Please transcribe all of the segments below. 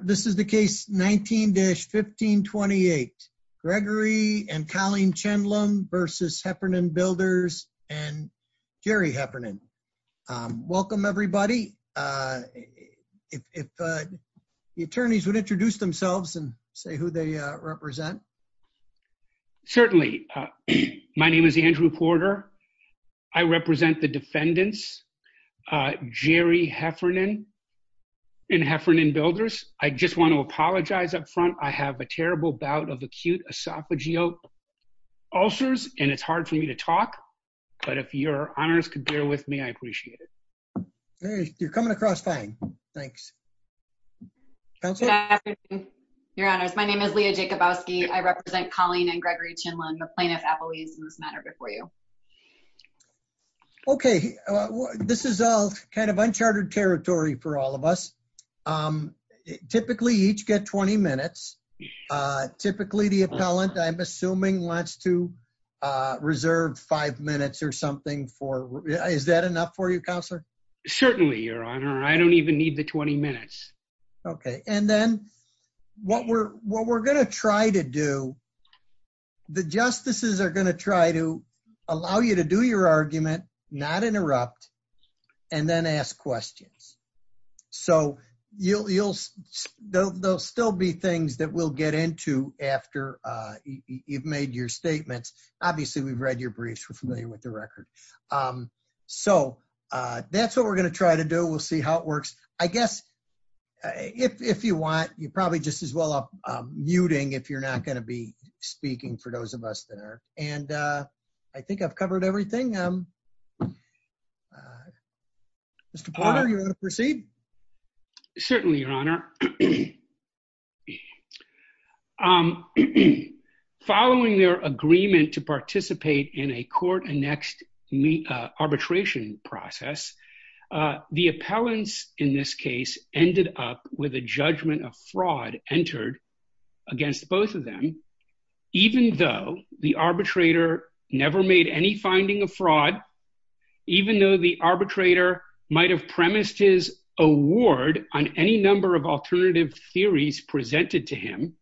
This is the case 19-1528. Gregory and Colleen Chenlam versus Heffernan Builders and Jerry Heffernan. Welcome everybody. If the attorneys would introduce themselves and say who they represent. Certainly. My name is Andrew Porter. I represent the defendants, Jerry Heffernan and Heffernan Builders. I just want to apologize up front. I have a terrible bout of acute esophageal ulcers and it's hard for me to talk. But if your honors could bear with me, I appreciate it. You're coming across fine. Thanks. Good afternoon, your honors. My name is Leah Jacobowski. I represent Colleen and Gregory Chenlan, the plaintiff appellees in this this is all kind of uncharted territory for all of us. Typically each get 20 minutes. Typically the appellant I'm assuming wants to reserve five minutes or something for is that enough for you, counselor? Certainly, your honor. I don't even need the 20 minutes. Okay. And then what we're what we're going to try to do, the justices are going to try to allow you to do your argument, not interrupt, and then ask questions. So you'll you'll they'll still be things that we'll get into after you've made your statements. Obviously, we've read your briefs, we're familiar with the record. So that's what we're going to try to do. We'll see how it works. I guess if you want you probably just as well up muting if you're not going to be speaking for those of us that are and I think I've covered everything. Mr. Potter, you're going to proceed? Certainly, your honor. Following their agreement to participate in a court-annexed arbitration process, the appellants in this case ended up with a judgment of fraud entered against both of them, even though the arbitrator never made any finding of fraud, even though the arbitrator might have premised his award on any number of alternative theories presented to him,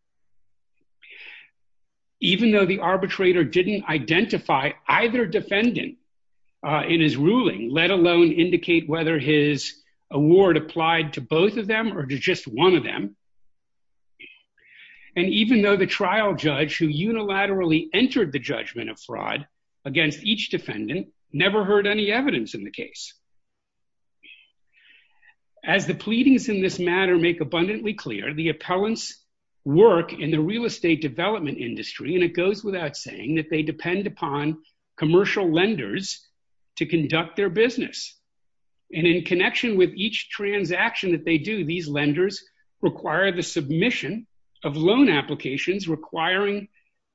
even though the arbitrator didn't identify either defendant in his ruling, let alone indicate whether his award applied to both of them or to just one of them, and even though the trial judge who unilaterally entered the judgment of fraud against each defendant never heard any evidence in the case. As the pleadings in this matter make abundantly clear, the appellants work in the real estate development industry, and it goes without saying that they depend upon commercial lenders to conduct their business, and in connection with each transaction that they do, these lenders require the submission of loan applications requiring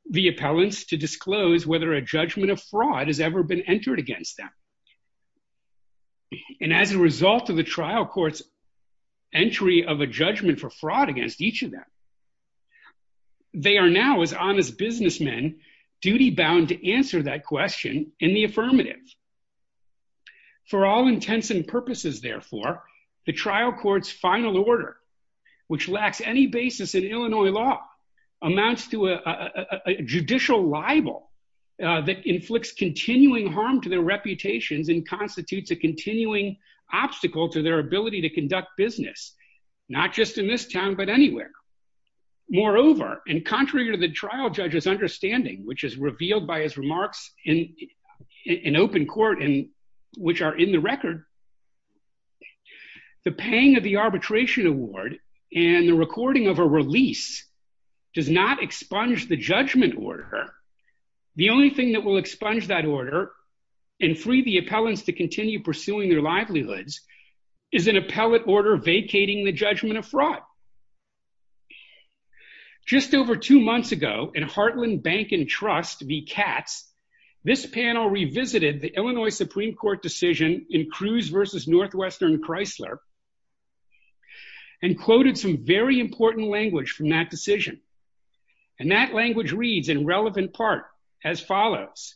the appellants to disclose whether a judgment of fraud has ever been entered against them, and as a result of the trial court's entry of a judgment for fraud against each of them, they are now, as honest businessmen, duty-bound to answer that question in the affirmative. For all intents and purposes, therefore, the trial court's final order, which lacks any basis in Illinois law, amounts to a judicial libel that inflicts continuing harm to their reputations and constitutes a continuing obstacle to their ability to conduct business, not just in this town but anywhere. Moreover, and contrary to the trial judge's understanding, which is revealed by his remarks in open court and which are in the record, the paying of the arbitration award and the recording of a release does not expunge the appellants to continue pursuing their livelihoods is an appellate order vacating the judgment of fraud. Just over two months ago, in Heartland Bank and Trust v. Katz, this panel revisited the Illinois Supreme Court decision in Cruz v. Northwestern Chrysler and quoted some very important language from that decision, and that language reads in relevant part as follows,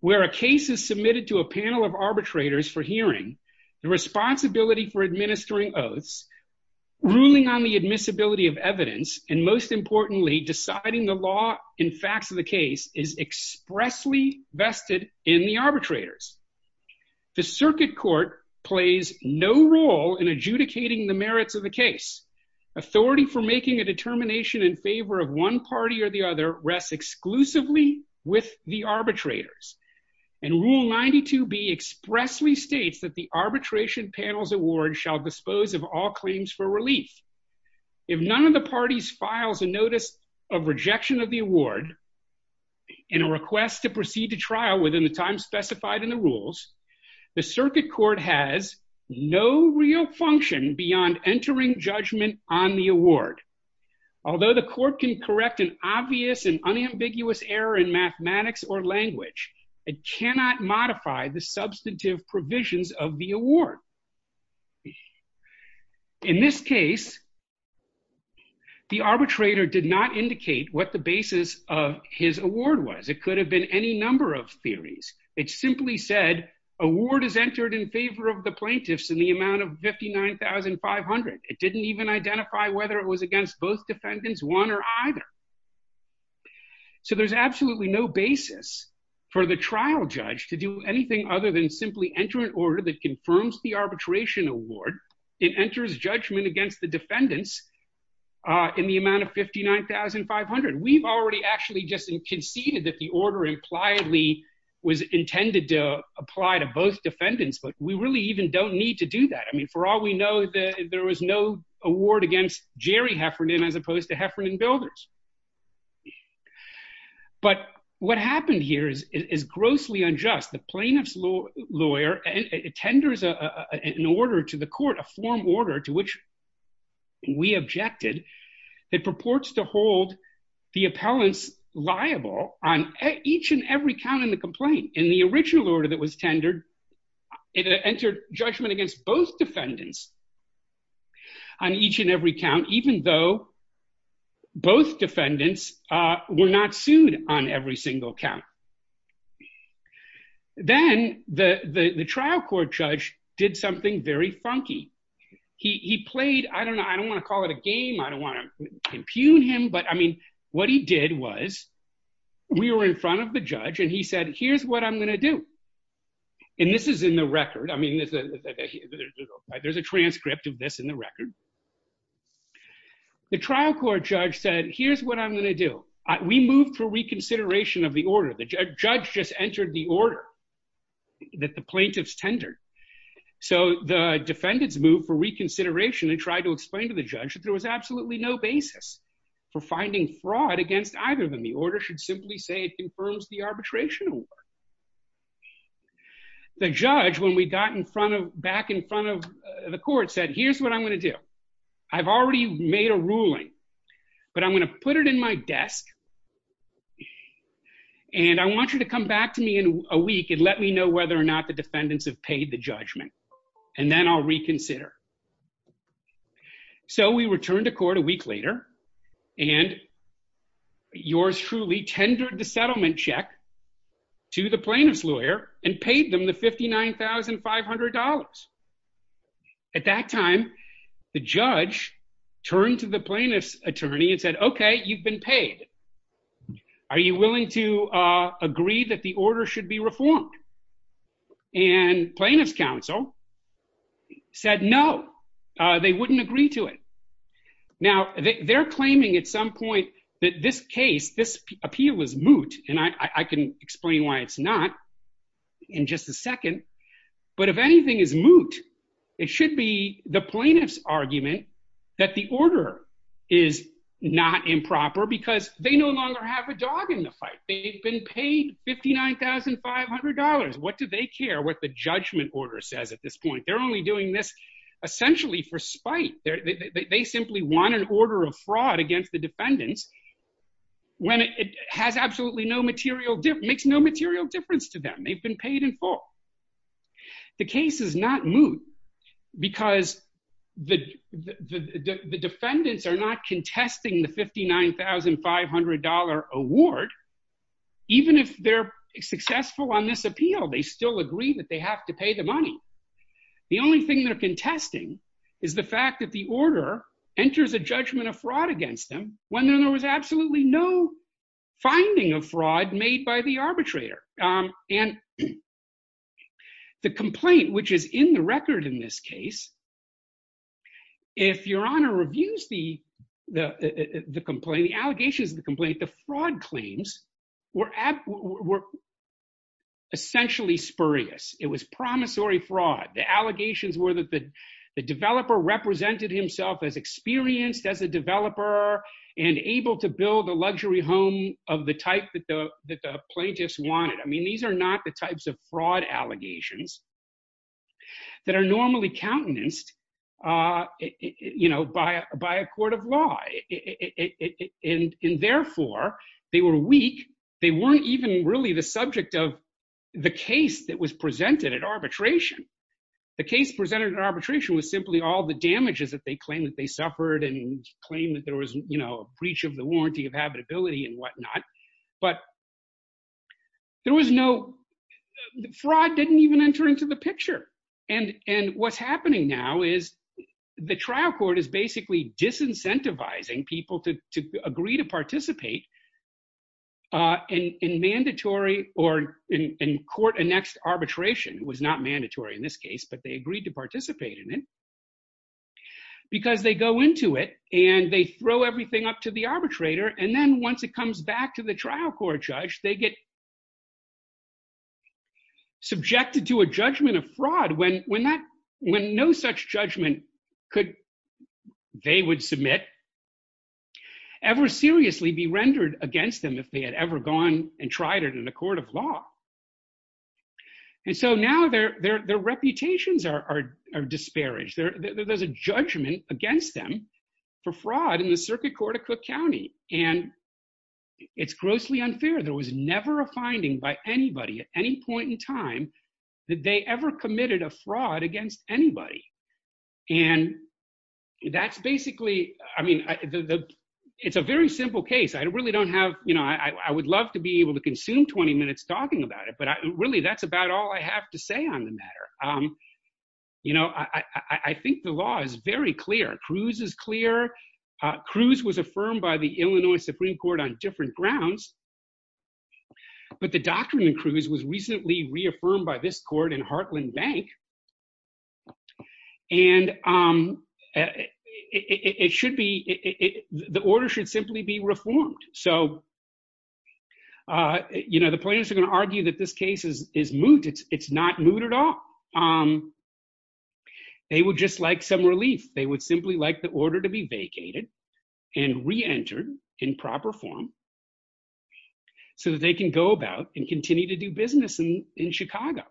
where a case is submitted to a panel of arbitrators for hearing, the responsibility for administering oaths, ruling on the admissibility of evidence, and most importantly, deciding the law and facts of the case is expressly vested in the arbitrators. The circuit court plays no role in adjudicating the merits of the case. Authority for making a judgment is not the sole responsibility of the arbitrators, and Rule 92B expressly states that the arbitration panel's award shall dispose of all claims for relief. If none of the parties files a notice of rejection of the award in a request to proceed to trial within the time specified in the rules, the circuit court has no real function beyond entering judgment on the It cannot modify the substantive provisions of the award. In this case, the arbitrator did not indicate what the basis of his award was. It could have been any number of theories. It simply said, award is entered in favor of the plaintiffs in the amount of $59,500. It didn't even identify whether it was against both defendants, one or either. So there's absolutely no basis for the trial judge to do anything other than simply enter an order that confirms the arbitration award and enters judgment against the defendants in the amount of $59,500. We've already actually just conceded that the order impliedly was intended to apply to both defendants, but we really even don't need to do that. I mean, for all we know, there was no award against Jerry Heffernan as opposed to Heffernan Builders. But what happened here is grossly unjust. The plaintiff's lawyer tenders an order to the court, a form order to which we objected, that purports to hold the appellants liable on each and every count in the complaint. In the original order that was tendered, it entered judgment against both defendants on each and every count, even though both defendants were not sued on every single count. Then the trial court judge did something very funky. He played, I don't know, I don't want to call it a game. I don't want to impugn him, but I mean, what he did was we were in front of the judge and he said, here's what I'm going to do. And this is in the record. I mean, there's a transcript of this in the record. The trial court judge said, here's what I'm going to do. We moved for reconsideration of the order. The judge just entered the order that the plaintiffs tendered. So the defendants moved for reconsideration and tried to explain to the judge that there was absolutely no basis for finding fraud against either of them. The order should simply say it confirms the arbitration award. The judge, when we got in front of, back in front of the court said, here's what I'm going to do. I've already made a ruling, but I'm going to put it in my desk and I want you to come back to me in a week and let me know whether or not the defendants have paid the judgment. And then I'll reconsider. So we returned to court a week later and yours truly tendered the settlement check to the plaintiff's lawyer and paid them the $59,500. At that time, the judge turned to the plaintiff's attorney and said, okay, you've been paid. Are you willing to agree that the order should be reformed? And plaintiff's counsel said, no, they wouldn't agree to it. Now they're claiming at some point that this case, this moot, and I can explain why it's not in just a second, but if anything is moot, it should be the plaintiff's argument that the order is not improper because they no longer have a dog in the fight. They've been paid $59,500. What do they care what the judgment order says at this point? They're only doing this essentially for spite. They simply want an order of fraud against the makes no material difference to them. They've been paid in full. The case is not moot because the defendants are not contesting the $59,500 award. Even if they're successful on this appeal, they still agree that they have to pay the money. The only thing they're contesting is the fact that the order enters a judgment of fraud against them when there was absolutely no fraud made by the arbitrator. And the complaint, which is in the record in this case, if your honor reviews the complaint, the allegations of the complaint, the fraud claims were essentially spurious. It was promissory fraud. The allegations were that the developer represented himself as experienced as a developer and able to build a luxury home of the type that the plaintiffs wanted. I mean, these are not the types of fraud allegations that are normally countenanced by a court of law. And therefore, they were weak. They weren't even really the subject of the case that was presented at arbitration. The case presented at arbitration was simply all the damages that they claimed that they suffered and claimed that there was a breach of the warranty of habitability and whatnot. But there was no fraud didn't even enter into the picture. And what's happening now is the trial court is basically disincentivizing people to agree to participate in mandatory or in court annexed arbitration was not mandatory in this case, but they agreed to participate in it because they go into it and they throw everything up to the arbitrator. And then once it comes back to the trial court judge, they get subjected to a judgment of fraud when no such judgment they would submit ever seriously be rendered against them if they had ever gone and tried it in a court of law. And so now their reputations are disparaged. There's a judgment against them for fraud in circuit court of Cook County. And it's grossly unfair. There was never a finding by anybody at any point in time that they ever committed a fraud against anybody. And that's basically I mean, it's a very simple case. I really don't have you know, I would love to be able to consume 20 minutes talking about it. But really, that's about all I have to say on the matter. You know, I think the is very clear. Cruz is clear. Cruz was affirmed by the Illinois Supreme Court on different grounds. But the doctrine in Cruz was recently reaffirmed by this court in Heartland Bank. And it should be the order should simply be reformed. So, you know, the players are going to argue that this case is is moot. It's not moot at all. Um, they would just like some relief, they would simply like the order to be vacated and reentered in proper form. So that they can go about and continue to do business in in Chicago.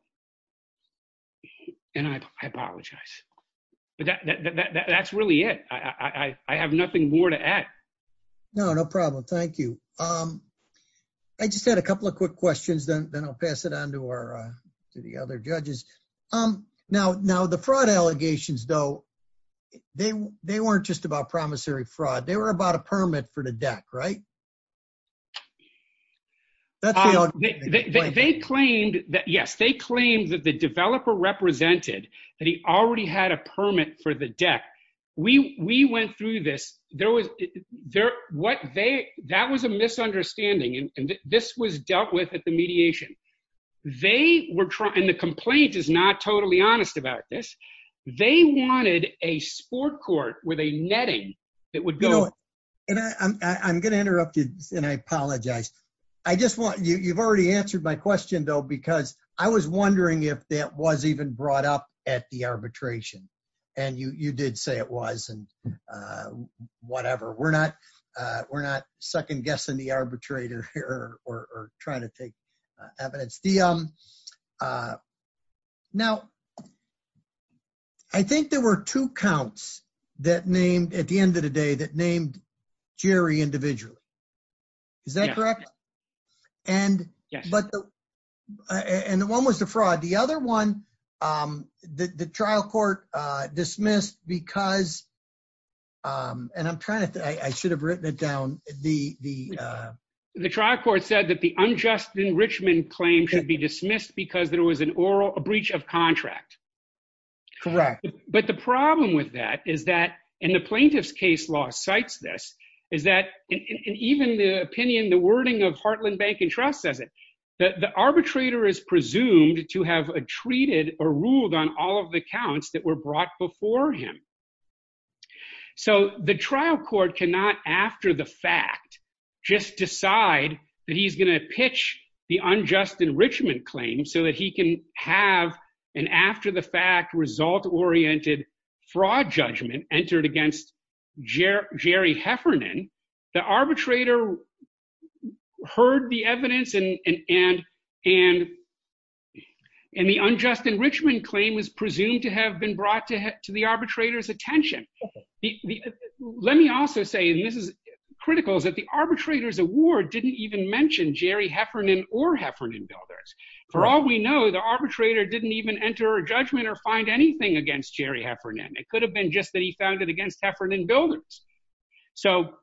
And I apologize. But that's really it. I have nothing more to add. No, no problem. Thank you. Um, I just had a couple of quick questions. Then I'll pass it on to our to the other judges. Um, now now the fraud allegations, though, they they weren't just about promissory fraud, they were about a permit for the deck, right? They claimed that yes, they claimed that the developer represented that he already had a permit for the deck. We went through this, there was there what they that was a misunderstanding. And this was dealt with at the mediation. They were trying the complaint is not totally honest about this. They wanted a sport court with a netting that would go. And I'm gonna interrupt you. And I apologize. I just want you you've already answered my question, though, because I was wondering if that was even brought up at the arbitration. And you did say it was and whatever, we're not. We're not second guessing the arbitrator here or trying to take evidence. Now, I think there were two counts that named at the end of the day that named Jerry individually. Is that correct? And yeah, but and one was the fraud. The other one, the trial court dismissed because and I'm trying to I should have written it down the the trial court said that the unjust enrichment claim should be dismissed because there was an oral breach of contract. Correct. But the problem with that is that in the plaintiff's case law cites this is that in even the opinion, the wording of Heartland Bank and Trust says it the arbitrator is presumed to have treated or ruled on all of the accounts that were brought before him. So the trial court cannot after the fact, just decide that he's going to pitch the unjust enrichment claim so that he can have an after the fact result oriented fraud judgment entered against Jerry Heffernan. The arbitrator heard the evidence and the unjust enrichment claim was presumed to have been brought to the arbitrator's attention. Let me also say, and this is critical, is that the arbitrator's award didn't even mention Jerry Heffernan or Heffernan builders. For all we know, the arbitrator didn't even enter a judgment or find anything against Jerry Heffernan. It could have been just that he found it against Heffernan builders. So,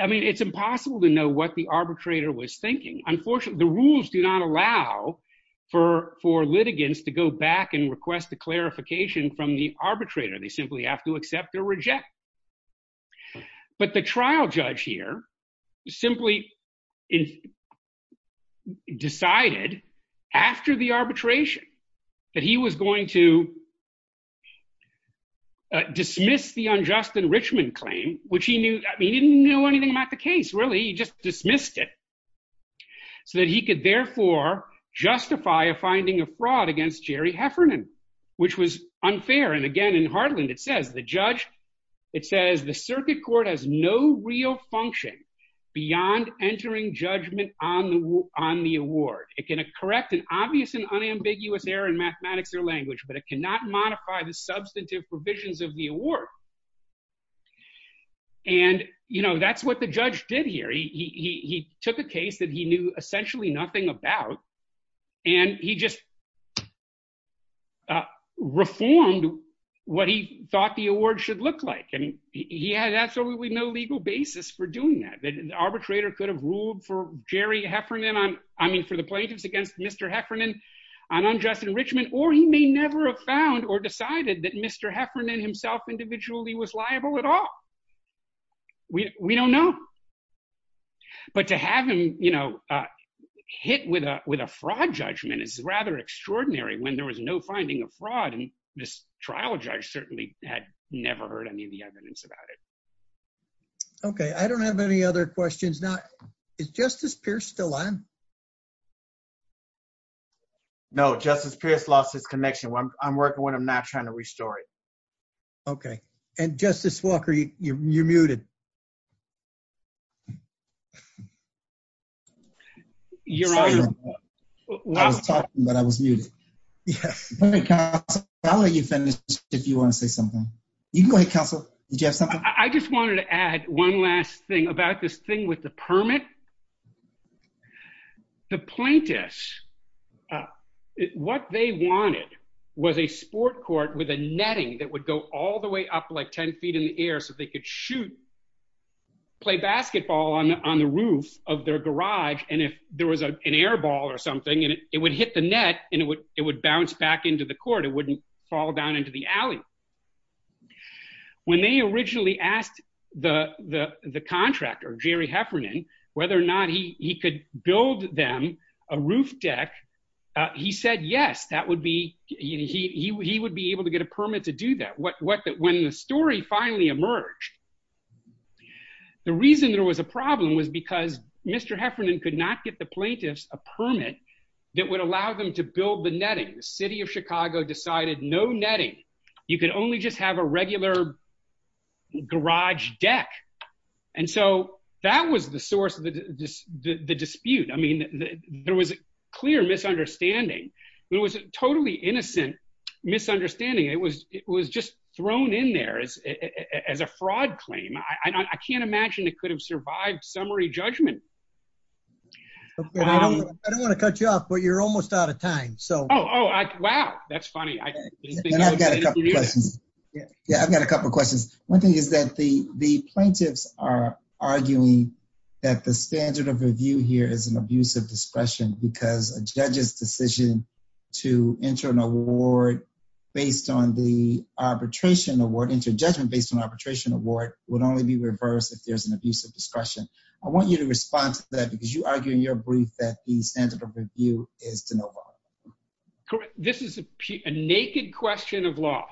I mean, it's impossible to know what the arbitrator was thinking. Unfortunately, the rules do not allow for litigants to go back and request a clarification from the arbitrator. They simply have to accept or reject. But the trial judge here simply decided after the arbitration that he was going to dismiss the unjust enrichment claim, which he knew, he didn't know anything about the case, really. He just dismissed it so that he could therefore justify a finding of fraud against Jerry Heffernan, which was unfair. And again, in Heartland, it says, the judge, it says, the circuit court has no real function beyond entering judgment on the award. It can correct an obvious and unambiguous error in mathematics or language, but it cannot modify the substantive provisions of the award. And, you know, that's what the judge did here. He took a case that he knew essentially nothing about, and he just reformed what he thought the award should look like. And he had absolutely no legal basis for doing that. The arbitrator could have ruled for Jerry Heffernan, I mean, for the plaintiffs against Mr. Heffernan on unjust enrichment, or he may never have found or decided that Mr. Heffernan himself individually was liable at all. We don't know. But to have him, you know, hit with a fraud judgment is rather extraordinary when there was no finding of fraud, and this trial judge certainly had never heard any of the evidence about it. Okay, I don't have any other questions. Now, is Justice Pierce still on? No, Justice Pierce lost his connection. I'm working on it. I'm not trying to restore it. Okay, and Justice Walker, you're muted. You're on. I was talking, but I was muted. I'll let you finish if you want to say something. You can go ahead, counsel. Did you have something? I just wanted to add one last thing about this thing with the permit. The plaintiffs, what they wanted was a sport court with a netting that would go all the way up like 10 feet in the air so they could shoot, play basketball on the roof of their garage, and if there was an air ball or something, it would hit the net, and it would bounce back into the court. It wouldn't fall down into the alley. When they originally asked the contractor, Jerry Heffernan, whether or not he could build them a roof deck, he said yes, he would be able to get a permit to do that. When the story finally emerged, the reason there was a problem was because Mr. Heffernan could not get the plaintiffs a permit that would allow them to build the netting. The city of Chicago decided no netting. You could only just have a regular garage deck. That was the source of the dispute. There was a clear misunderstanding. It was a totally innocent misunderstanding. It was just thrown in there as a fraud claim. I can't imagine it could have survived summary judgment. I don't want to cut you off, but you're almost out of time. Wow, that's funny. Yeah, I've got a couple questions. One thing is that the plaintiffs are arguing that the standard of review here is an abuse of discretion because a judge's decision to enter an award based on the arbitration award, enter judgment based on arbitration award, would only be reversed if there's an abuse of discretion. I want you to respond to that because you argue in your brief that the standard of review is to no avail. This is a naked question of law.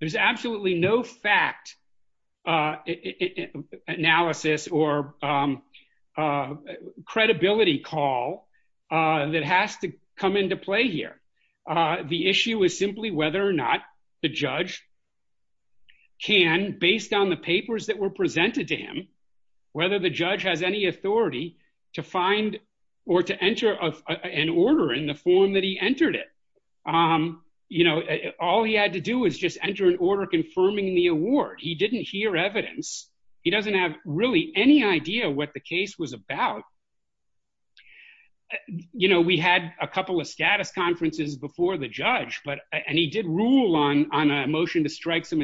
There's absolutely no fact analysis or credibility call that has to come into play here. The issue is simply whether or not the judge can, based on the papers that were presented to him, whether the judge has any authority to find or to enter an order in the form that he entered it. All he had to do was just enter an order confirming the award. He didn't hear evidence. He doesn't have really any idea what the case was about. We had a couple of status conferences before the judge, and he did rule on a motion to strike some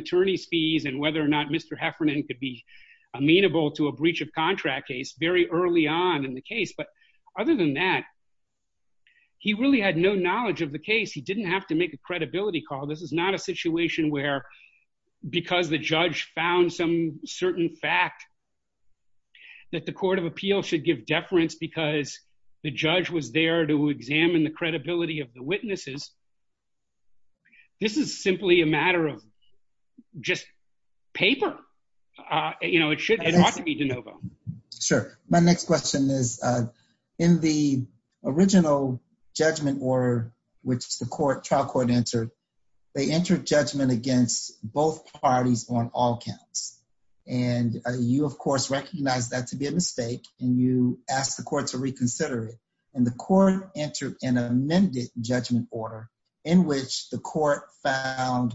to a breach of contract case very early on in the case. But other than that, he really had no knowledge of the case. He didn't have to make a credibility call. This is not a situation where, because the judge found some certain fact that the court of appeal should give deference because the judge was there to examine the credibility of the witnesses. This is simply a matter of just paper. It ought to be de novo. Sure. My next question is, in the original judgment order, which the trial court entered, they entered judgment against both parties on all counts. You, of course, recognize that to be a mistake, and you ask the court to reconsider it. The court entered an amended judgment order, in which the court found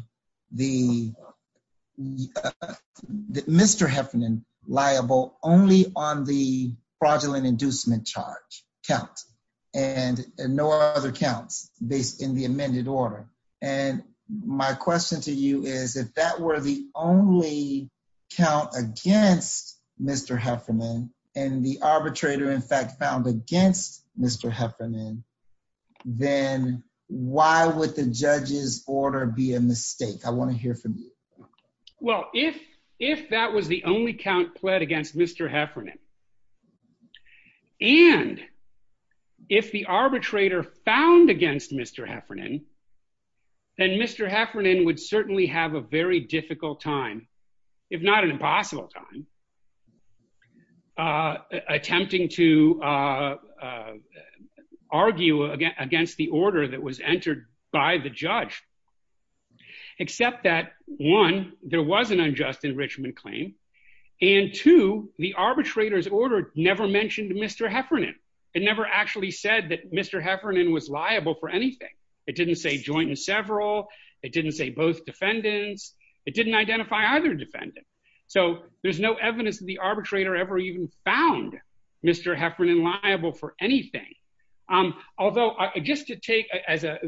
Mr. Heffernan liable only on the fraudulent inducement charge count, and no other counts based in the amended order. My question to you is, if that were the only count against Mr. Heffernan, and the arbitrator, in fact, found against Mr. Heffernan, then why would the judge's order be a mistake? I want to hear from you. Well, if that was the only count pled against Mr. Heffernan, and if the arbitrator found against Mr. Heffernan, then Mr. Heffernan would certainly have a very difficult time, if not an impossible time, attempting to argue against the order that was entered by the judge, except that, one, there was an unjust enrichment claim, and two, the arbitrator's order never mentioned Mr. Heffernan. It never actually said that Mr. Heffernan was liable for anything. It didn't say joint and several. It didn't say both defendants. It didn't identify either defendant. So there's no evidence that the arbitrator ever even found Mr. Heffernan liable for anything. Although, just to take as a...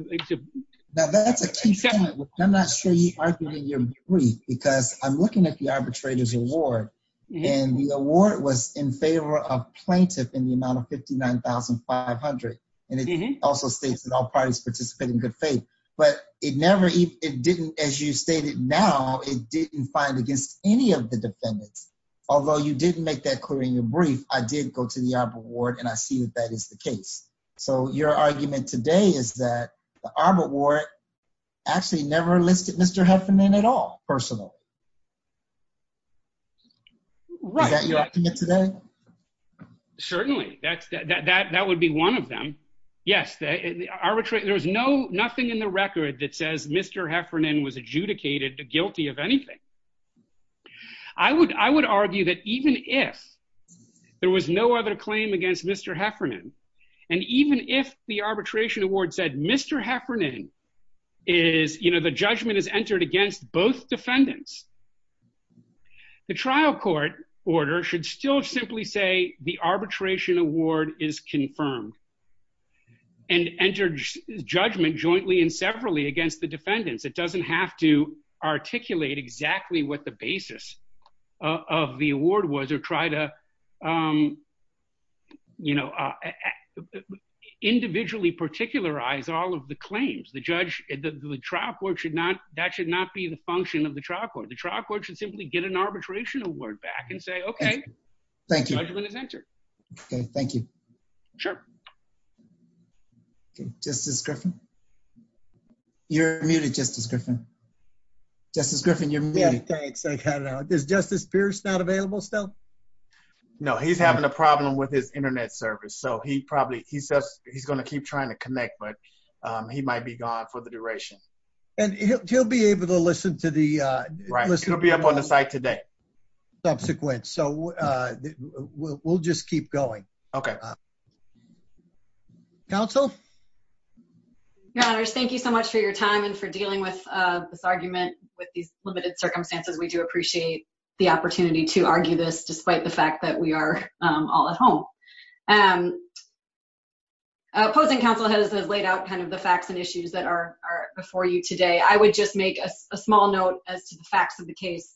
Now, that's a key point, which I'm not sure you argued in your brief, because I'm looking at the arbitrator's award, and the award was in favor of plaintiff in the amount of $59,500, and it also states that all parties participate in good faith, but it never... It didn't, as you stated now, it didn't find against any of the defendants. Although you didn't make that clear in your brief, I did go to the arbor ward, and I see that that is the case. So your argument today is that the arbor ward actually never listed Mr. Heffernan at all, personally. Is that your argument today? Certainly. That would be one of them. Yes. There's nothing in the record that says Mr. Heffernan was adjudicated guilty of anything. I would argue that even if there was no other claim against Mr. Heffernan, and even if the arbitration award said Mr. Heffernan is... The trial court order should still simply say the arbitration award is confirmed, and enter judgment jointly and severally against the defendants. It doesn't have to articulate exactly what the basis of the award was, or try to individually particularize all the claims. The trial court should not... That should not be the function of the trial court. The trial court should simply get an arbitration award back and say, okay. Thank you. Judgment is entered. Okay. Thank you. Sure. Justice Griffin. You're muted, Justice Griffin. Justice Griffin, you're muted. Thanks. I got it out. Is Justice Pierce not available still? No, he's having a problem with his internet service. So he probably... He's gonna keep trying to connect, but he might be gone for the duration. And he'll be able to listen to the... Right. He'll be up on the site today. Subsequent. So we'll just keep going. Okay. Counsel? Your honors, thank you so much for your time and for dealing with this argument with these limited circumstances. We do appreciate the opportunity to argue this despite the fact that we are all at home. Opposing counsel has laid out the facts and issues that are before you today. I would just make a small note as to the facts of the case.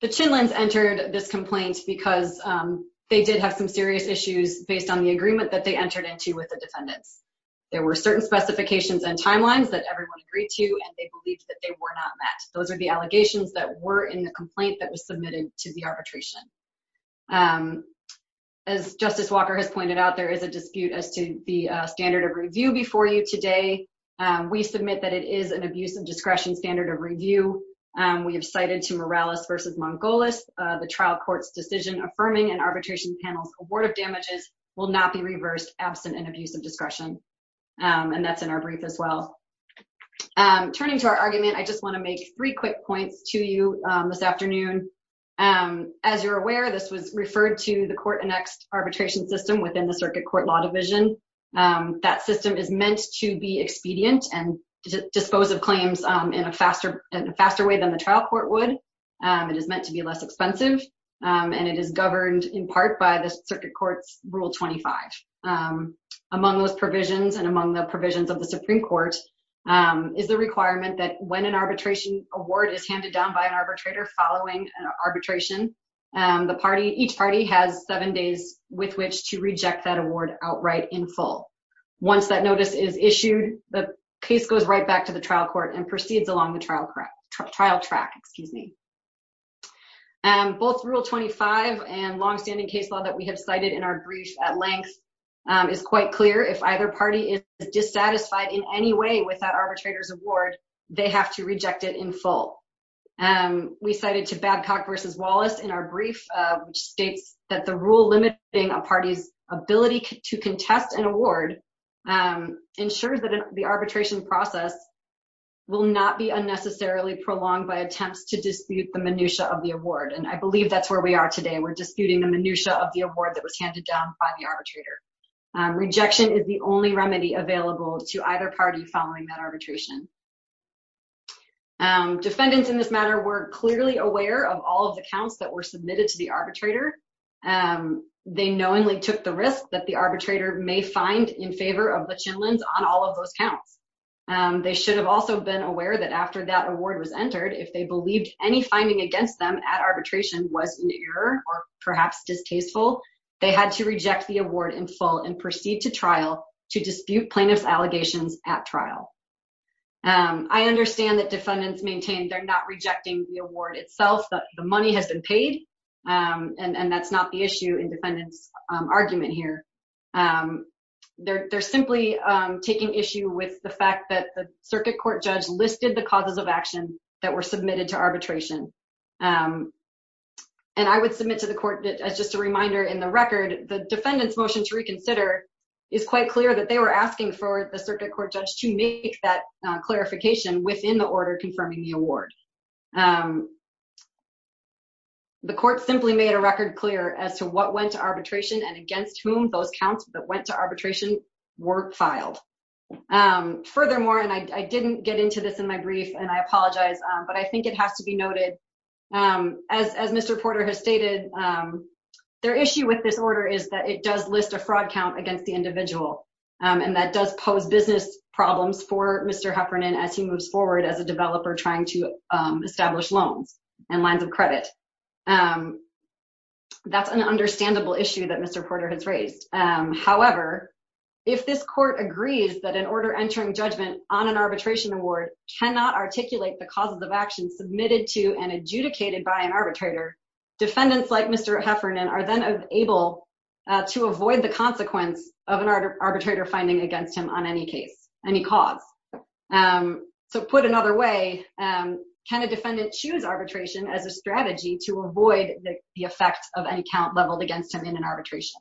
The Chinlins entered this complaint because they did have some serious issues based on the agreement that they entered into with the defendants. There were certain specifications and timelines that everyone agreed to, and they believed that they were not met. Those are the allegations that were in the complaint that was submitted to the arbitration. As Justice Walker has pointed out, there is a dispute as to the standard of review before you today. We submit that it is an abuse of discretion standard of review. We have cited to Morales versus Mongolis, the trial court's decision affirming an arbitration panel's award of damages will not be reversed absent an abuse of discretion. And that's in our brief as well. Turning to our argument, I just wanna make three quick points to you this afternoon. As you're aware, this was referred to the court-annexed arbitration system within the Circuit Court Law Division. That system is meant to be expedient and dispose of claims in a faster way than the trial court would. It is meant to be less expensive, and it is governed in part by the Circuit Court's Rule 25. Among those provisions and among the provisions of the Supreme Court is the requirement that when an arbitration award is handed down by an arbitrator following an arbitration, each party has seven days with which to reject that award outright in full. Once that notice is issued, the case goes right back to the trial court and proceeds along the trial track. Both Rule 25 and longstanding case law that we have cited in our brief at length is quite clear. If either party is dissatisfied in any way with that arbitrator's award, they have to reject it in full. We cited to Babcock v. Wallace in our brief, which states that the rule limiting a party's ability to contest an award ensures that the arbitration process will not be unnecessarily prolonged by attempts to dispute the minutiae of the award. And I believe that's where we are today. We're disputing the minutiae of the award that was handed down by the arbitrator. Rejection is only remedy available to either party following that arbitration. Defendants in this matter were clearly aware of all of the counts that were submitted to the arbitrator. They knowingly took the risk that the arbitrator may find in favor of the Chinlunds on all of those counts. They should have also been aware that after that award was entered, if they believed any finding against them at arbitration was an error or perhaps distasteful, they had to reject the to dispute plaintiff's allegations at trial. I understand that defendants maintain they're not rejecting the award itself. The money has been paid, and that's not the issue in defendant's argument here. They're simply taking issue with the fact that the circuit court judge listed the causes of action that were submitted to arbitration. And I would submit to the court as just a reminder in the record, the defendant's motion to reconsider is quite clear that they were asking for the circuit court judge to make that clarification within the order confirming the award. The court simply made a record clear as to what went to arbitration and against whom those counts that went to arbitration were filed. Furthermore, and I didn't get into this in my brief, and I their issue with this order is that it does list a fraud count against the individual, and that does pose business problems for Mr. Heffernan as he moves forward as a developer trying to establish loans and lines of credit. That's an understandable issue that Mr. Porter has raised. However, if this court agrees that an order entering judgment on an arbitration award cannot articulate the causes of action submitted to and adjudicated by an arbitrator, defendants like Mr. Heffernan are then able to avoid the consequence of an arbitrator finding against him on any case, any cause. So put another way, can a defendant choose arbitration as a strategy to avoid the effects of any count leveled against him in an arbitration?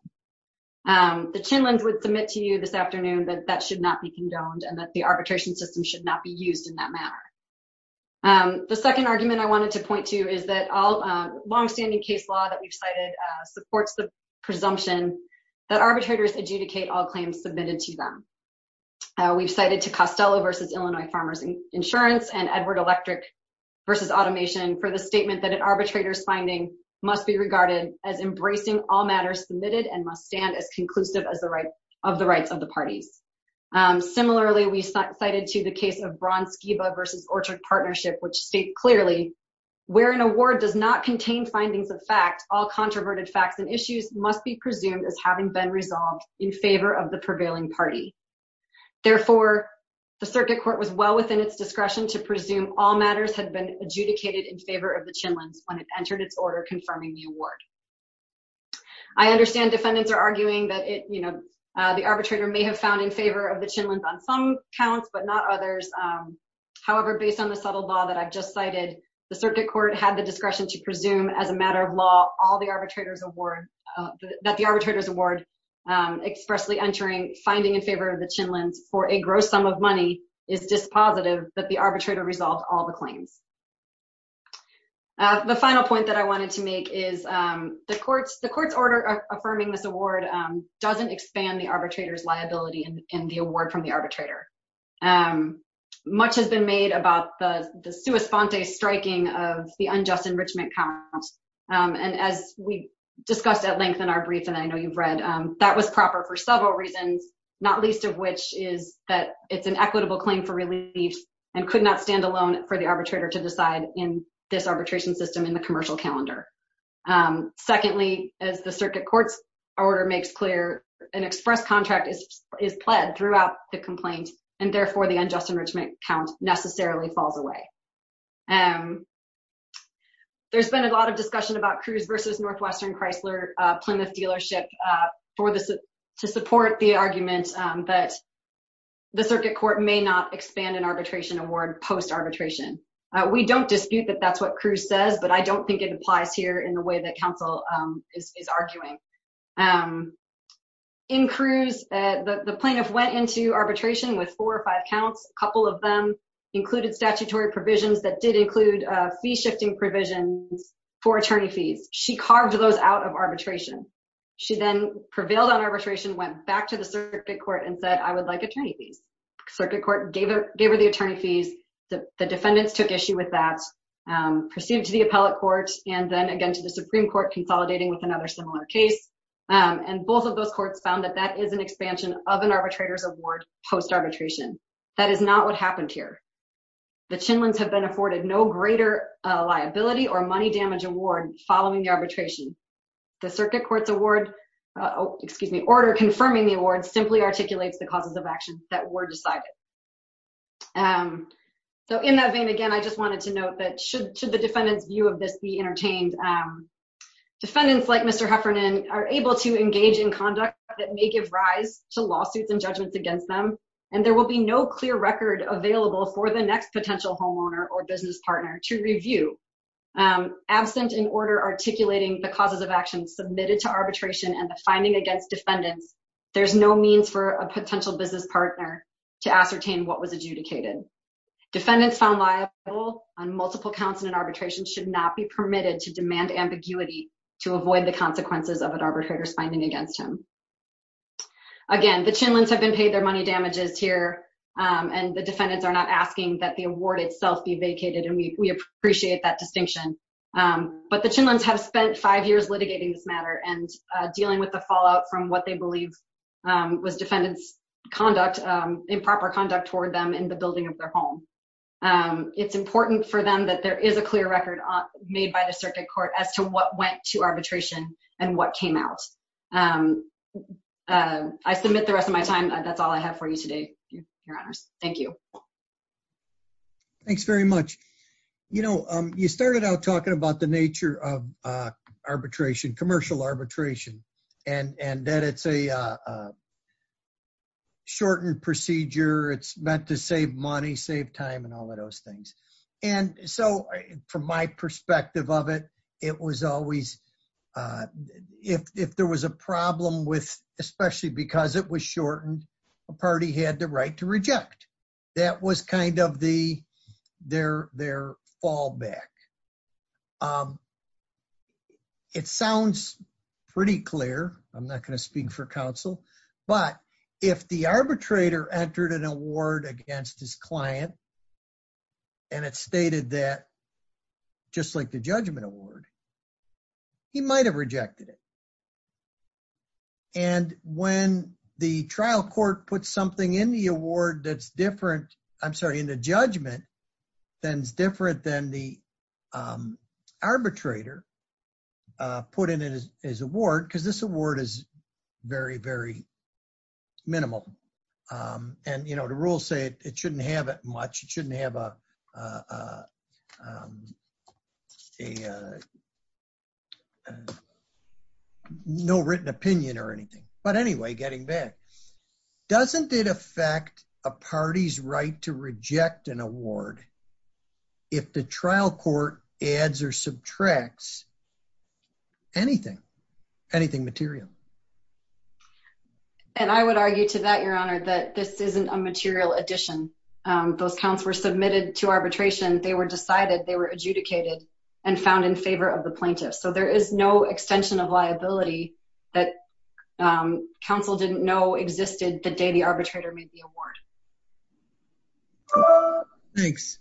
The Chinlins would submit to you this afternoon that that should not be condoned and that the arbitration system should not be used in that manner. The second argument I wanted to point to is that all long-standing case law that we've cited supports the presumption that arbitrators adjudicate all claims submitted to them. We've cited to Costello v. Illinois Farmers Insurance and Edward Electric v. Automation for the statement that an arbitrator's finding must be regarded as embracing all matters submitted and must stand as conclusive of the rights of the parties. Similarly, we cited to the case of Braun-Skiba v. Orchard Partnership, which state clearly, where an award does not contain findings of fact, all controverted facts and issues must be presumed as having been resolved in favor of the prevailing party. Therefore, the circuit court was well within its discretion to presume all matters had been adjudicated in favor of the Chinlins when it entered its order confirming the award. I understand defendants are arguing that it, you know, the arbitrator may have found in favor of the Chinlins on some counts but not others. However, based on the subtle law that I've just cited, the circuit court had the discretion to presume as a matter of law all the arbitrator's award, that the arbitrator's award expressly entering finding in favor of the Chinlins for a gross sum of money is dispositive that the arbitrator resolved all the claims. The final point that I wanted to make is the court's order affirming this award doesn't expand the arbitrator's liability in the award from the arbitrator. Much has been made about the the sua sponte striking of the unjust enrichment count. And as we discussed at length in our brief, and I know you've read, that was proper for several reasons, not least of which is that it's an equitable claim for relief and could not stand alone for the arbitrator to decide in this arbitration system in the commercial calendar. Secondly, as the circuit court's order makes clear, an express contract is is pled throughout the complaint and therefore the unjust enrichment count necessarily falls away. There's been a lot of discussion about Cruz versus Northwestern Chrysler Plymouth dealership to support the argument that the circuit court may not expand an arbitration award post arbitration. We don't dispute that that's what Cruz says, but I don't think it applies here in the way that counsel is arguing. In Cruz, the plaintiff went into arbitration with four or five counts. A couple of them included statutory provisions that did include fee shifting provisions for attorney fees. She carved those out of arbitration. She then prevailed on arbitration, went back to the circuit court and said, I would like attorney fees. Circuit court gave her the attorney fees. The defendants took issue with that, proceeded to the appellate court and then again to the Supreme Court consolidating with another similar case. And both of those That is not what happened here. The Chinlunds have been afforded no greater liability or money damage award following the arbitration. The circuit court's award, excuse me, order confirming the award simply articulates the causes of action that were decided. So in that vein, again, I just wanted to note that should the defendant's view of this be entertained, defendants like Mr. Heffernan are able to engage in conduct that may give rise to lawsuits and judgments against them. And there will be no clear record available for the next potential homeowner or business partner to review. Absent an order articulating the causes of action submitted to arbitration and the finding against defendants, there's no means for a potential business partner to ascertain what was adjudicated. Defendants found liable on multiple counts in an arbitration should not be permitted to demand ambiguity to avoid the consequences of an Again, the Chinlunds have been paid their money damages here and the defendants are not asking that the award itself be vacated and we appreciate that distinction. But the Chinlunds have spent five years litigating this matter and dealing with the fallout from what they believe was defendants conduct improper conduct toward them in the building of their home. It's important for them that there is a clear record on made by the circuit court as to what to arbitration and what came out. I submit the rest of my time. That's all I have for you today. Thank you. Thanks very much. You know, you started out talking about the nature of arbitration commercial arbitration and and that it's a shortened procedure. It's meant to save money, save time and all of those things. And so from my perspective of it, it was always if there was a problem with especially because it was shortened a party had the right to reject that was kind of the their their fallback. It sounds pretty clear. I'm not going to speak for counsel. But if the arbitrator entered an award against his client, and it's stated that just like the judgment award, he might have rejected it. And when the trial court put something in the award, that's different, I'm sorry, in the judgment, then it's different than the arbitrator put in it as his award, because this award is very, very minimal. And you know, the rules say it shouldn't have it much, it shouldn't have a no written opinion or anything. But anyway, getting back, doesn't it affect a party's right to reject an award? If the trial court adds or subtracts anything, anything material. And I would argue to that, Your Honor, that this isn't a material addition. Those counts were submitted to arbitration, they were decided they were adjudicated, and found in favor of the plaintiff. So there is no extension of liability that counsel didn't know existed the day the arbitrator made the award. Thanks.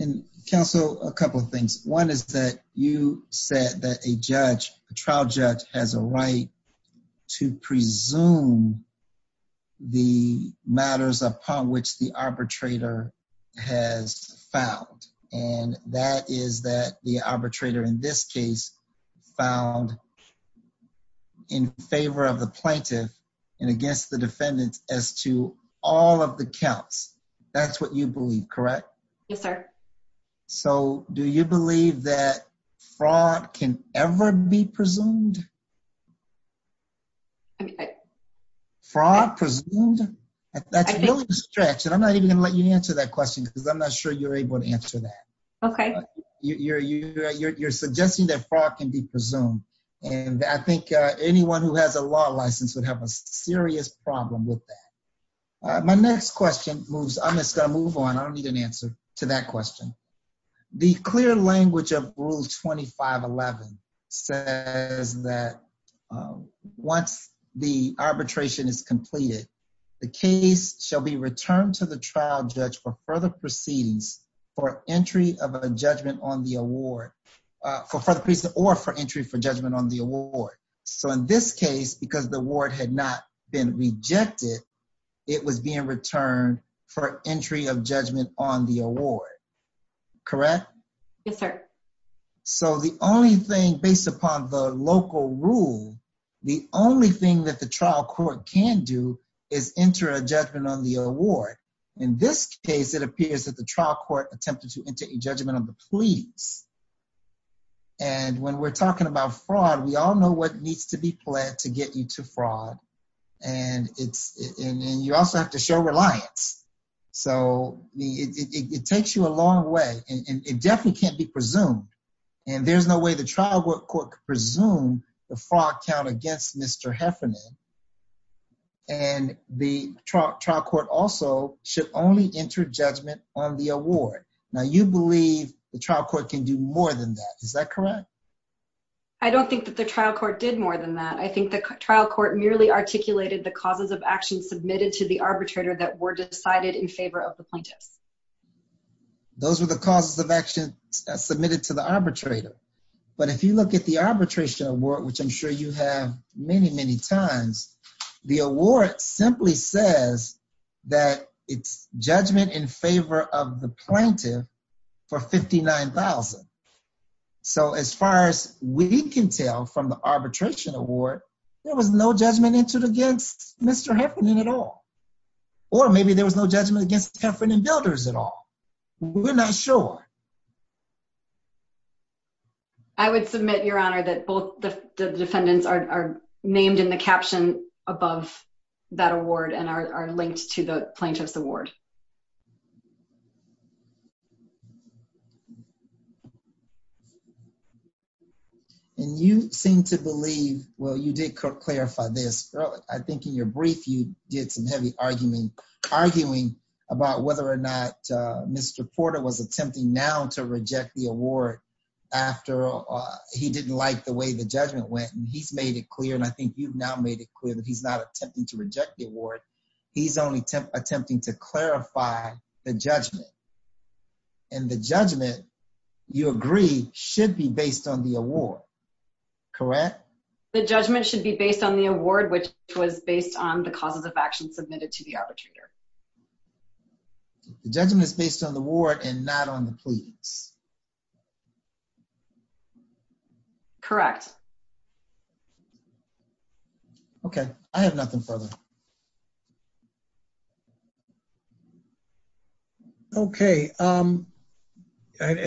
And counsel, a couple of things. One is that you said that a judge trial judge has a right to presume the matters upon which the arbitrator has found. And that is that the arbitrator in this case, found in favor of the plaintiff, and against the defendants as to all of the counts. That's what you believe, correct? Yes, sir. So do you believe that fraud can ever be presumed? I mean, fraud presumed? That's really a stretch. And I'm not even gonna let you answer that question, because I'm not sure you're able to answer that. Okay. You're suggesting that fraud can be presumed. And I think anyone who has a law license would have a serious problem with that. My next question moves, I'm just gonna move on, I don't need an answer to that question. The clear language of Rule 2511 says that once the arbitration is completed, the case shall be returned to the trial judge for further proceedings, for entry of a judgment on the award, for further reason or for entry for judgment on the award. So in this case, because the award had not been rejected, it was being returned for entry of judgment on the award. Correct? Yes, sir. So the only thing based upon the local rule, the only thing that the trial court can do is enter a judgment on the award. In this case, it appears that the trial court attempted to enter a judgment on the pleas. And when we're talking about fraud, we all know what needs to be pled to get you to fraud. And you also have to show reliance. So it takes you a long way, and it definitely can't be presumed. And there's no way the trial court could presume the fraud count against Mr. Heffernan. And the trial court also should only enter judgment on the award. Now you believe the trial court can do more than that. Is that correct? I don't think that the trial court did more than that. I think the trial court merely articulated the causes of action submitted to the arbitrator that were decided in favor of the plaintiffs. Those were the causes of action submitted to the arbitrator. But if you look at the arbitration award, which I'm sure you have many, many times, the award simply says that it's judgment in favor of the plaintiff for $59,000. So as far as we can tell from the arbitration award, there was no judgment entered against Mr. Heffernan at all. Or maybe there was no judgment against the Heffernan builders at all. We're not sure. I would submit, Your Honor, that both the defendants are named in the caption above that award and are linked to the plaintiff's award. And you seem to believe, well, you did clarify this early. I think in your brief, you did some heavy arguing about whether or not Mr. Porter was attempting now to reject the award after he didn't like the way the judgment went. And he's made it clear, and I think you've now made it clear that he's not attempting to reject the award. He's only attempting to clarify the judgment. And the judgment, you agree, should be based on the award. Correct? The judgment should be based on the award, which was based on the causes of action submitted to the arbitrator. The judgment is based on the award and not on the pleas. Correct. Okay. I have nothing further. Okay.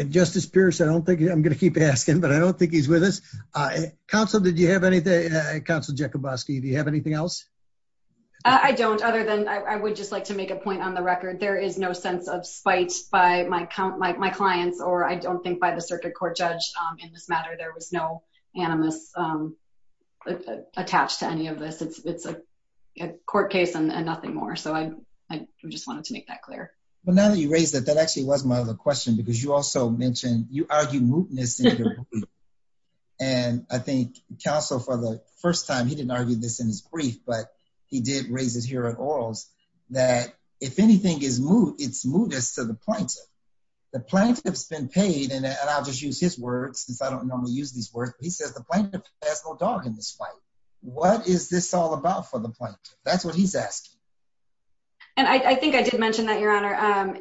Justice Pierce, I'm going to keep asking, but I don't think he's with us. Counsel, did you have anything? Counsel Jakubowski, do you have anything else? I don't, other than I would just like to make a point on the record. There is no sense of spite by my clients, or I don't think by the circuit court judge in this matter. There was no animus attached to any of this. It's a court case and nothing more. So I just wanted to make that clear. But now that you raised that, that actually was my other question, because you also mentioned, you argued mootness in your brief. And I think counsel, for the first time, he didn't argue this in his brief, but he did raise it here at Orals, that if anything is moot, it's mootness to the plaintiff. The plaintiff's been paid, and I'll just use his words, since I don't normally use these words, but he says the plaintiff has no dog in this fight. What is this all about for the plaintiff? That's what he's asking. And I think I did mention that, your honor.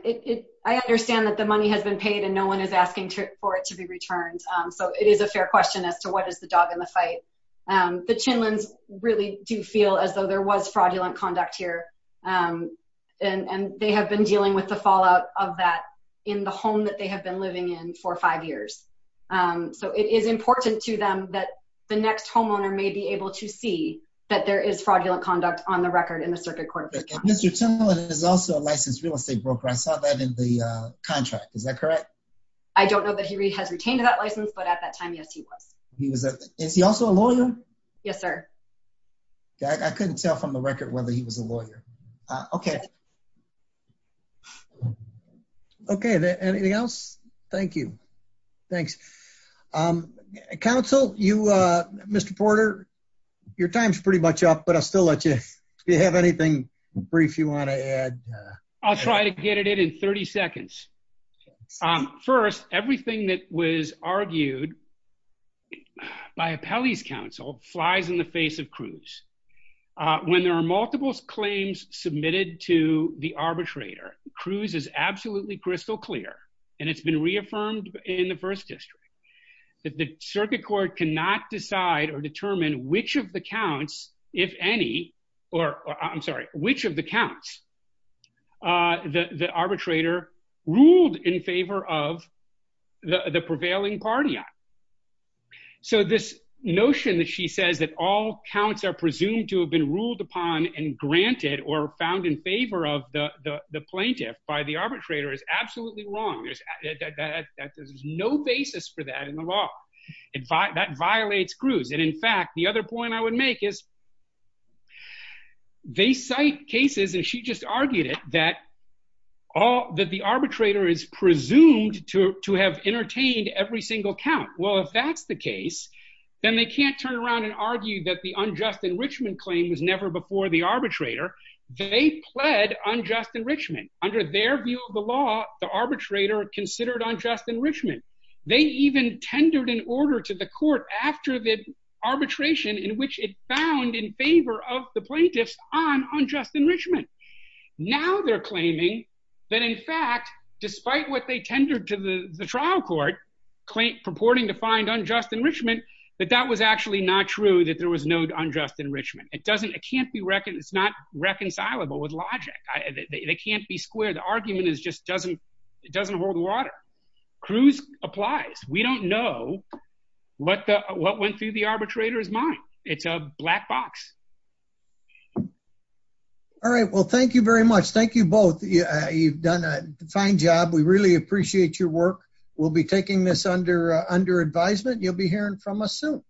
I understand that the money has been paid and no one is asking for it to be returned. So it is a fair question as to what is the dog in the fight. The Chinlins really do feel as though there was fraudulent conduct here. And they have been dealing with the fallout of that in the home that they have been living in for five years. So it is important to them that the next homeowner may be able to see that there is fraudulent conduct on the record in the circuit court. Mr. Chinlin is also a licensed real estate broker. I saw that in the contract. Is that correct? I don't know that he has retained that license, but at that time, yes, he was. He was. Is he also a lawyer? Yes, sir. I couldn't tell from the record whether he was a lawyer. Okay. Okay. Anything else? Thank you. Thanks. Counsel, you, Mr. Porter, your time's pretty much up, but I'll still let you, if you have anything brief you want to add. I'll try to get it in 30 seconds. First, everything that was argued by Appellee's Cruz, when there are multiple claims submitted to the arbitrator, Cruz is absolutely crystal clear, and it's been reaffirmed in the first district, that the circuit court cannot decide or determine which of the counts, if any, or I'm sorry, which of the counts the arbitrator ruled in favor of the prevailing party on. So this notion that she says that all counts are presumed to have been ruled upon and granted or found in favor of the plaintiff by the arbitrator is absolutely wrong. There's no basis for that in the law. That violates Cruz. And in fact, the other point I would make is they cite cases, and she just argued it, that the arbitrator is presumed to have entertained every single count. Well, if that's the case, then they can't turn around and argue that the unjust enrichment claim was never before the arbitrator. They pled unjust enrichment. Under their view of the law, the arbitrator considered unjust enrichment. They even tendered an order to the court after the arbitration in which it found in favor of the plaintiffs on their claiming, that in fact, despite what they tendered to the trial court, purporting to find unjust enrichment, that that was actually not true, that there was no unjust enrichment. It's not reconcilable with logic. They can't be square. The argument just doesn't hold water. Cruz applies. We don't know what went through the arbitrator's mind. It's a black box. All right. Well, thank you very much. Thank you both. You've done a fine job. We really appreciate your work. We'll be taking this under advisement. You'll be hearing from us soon.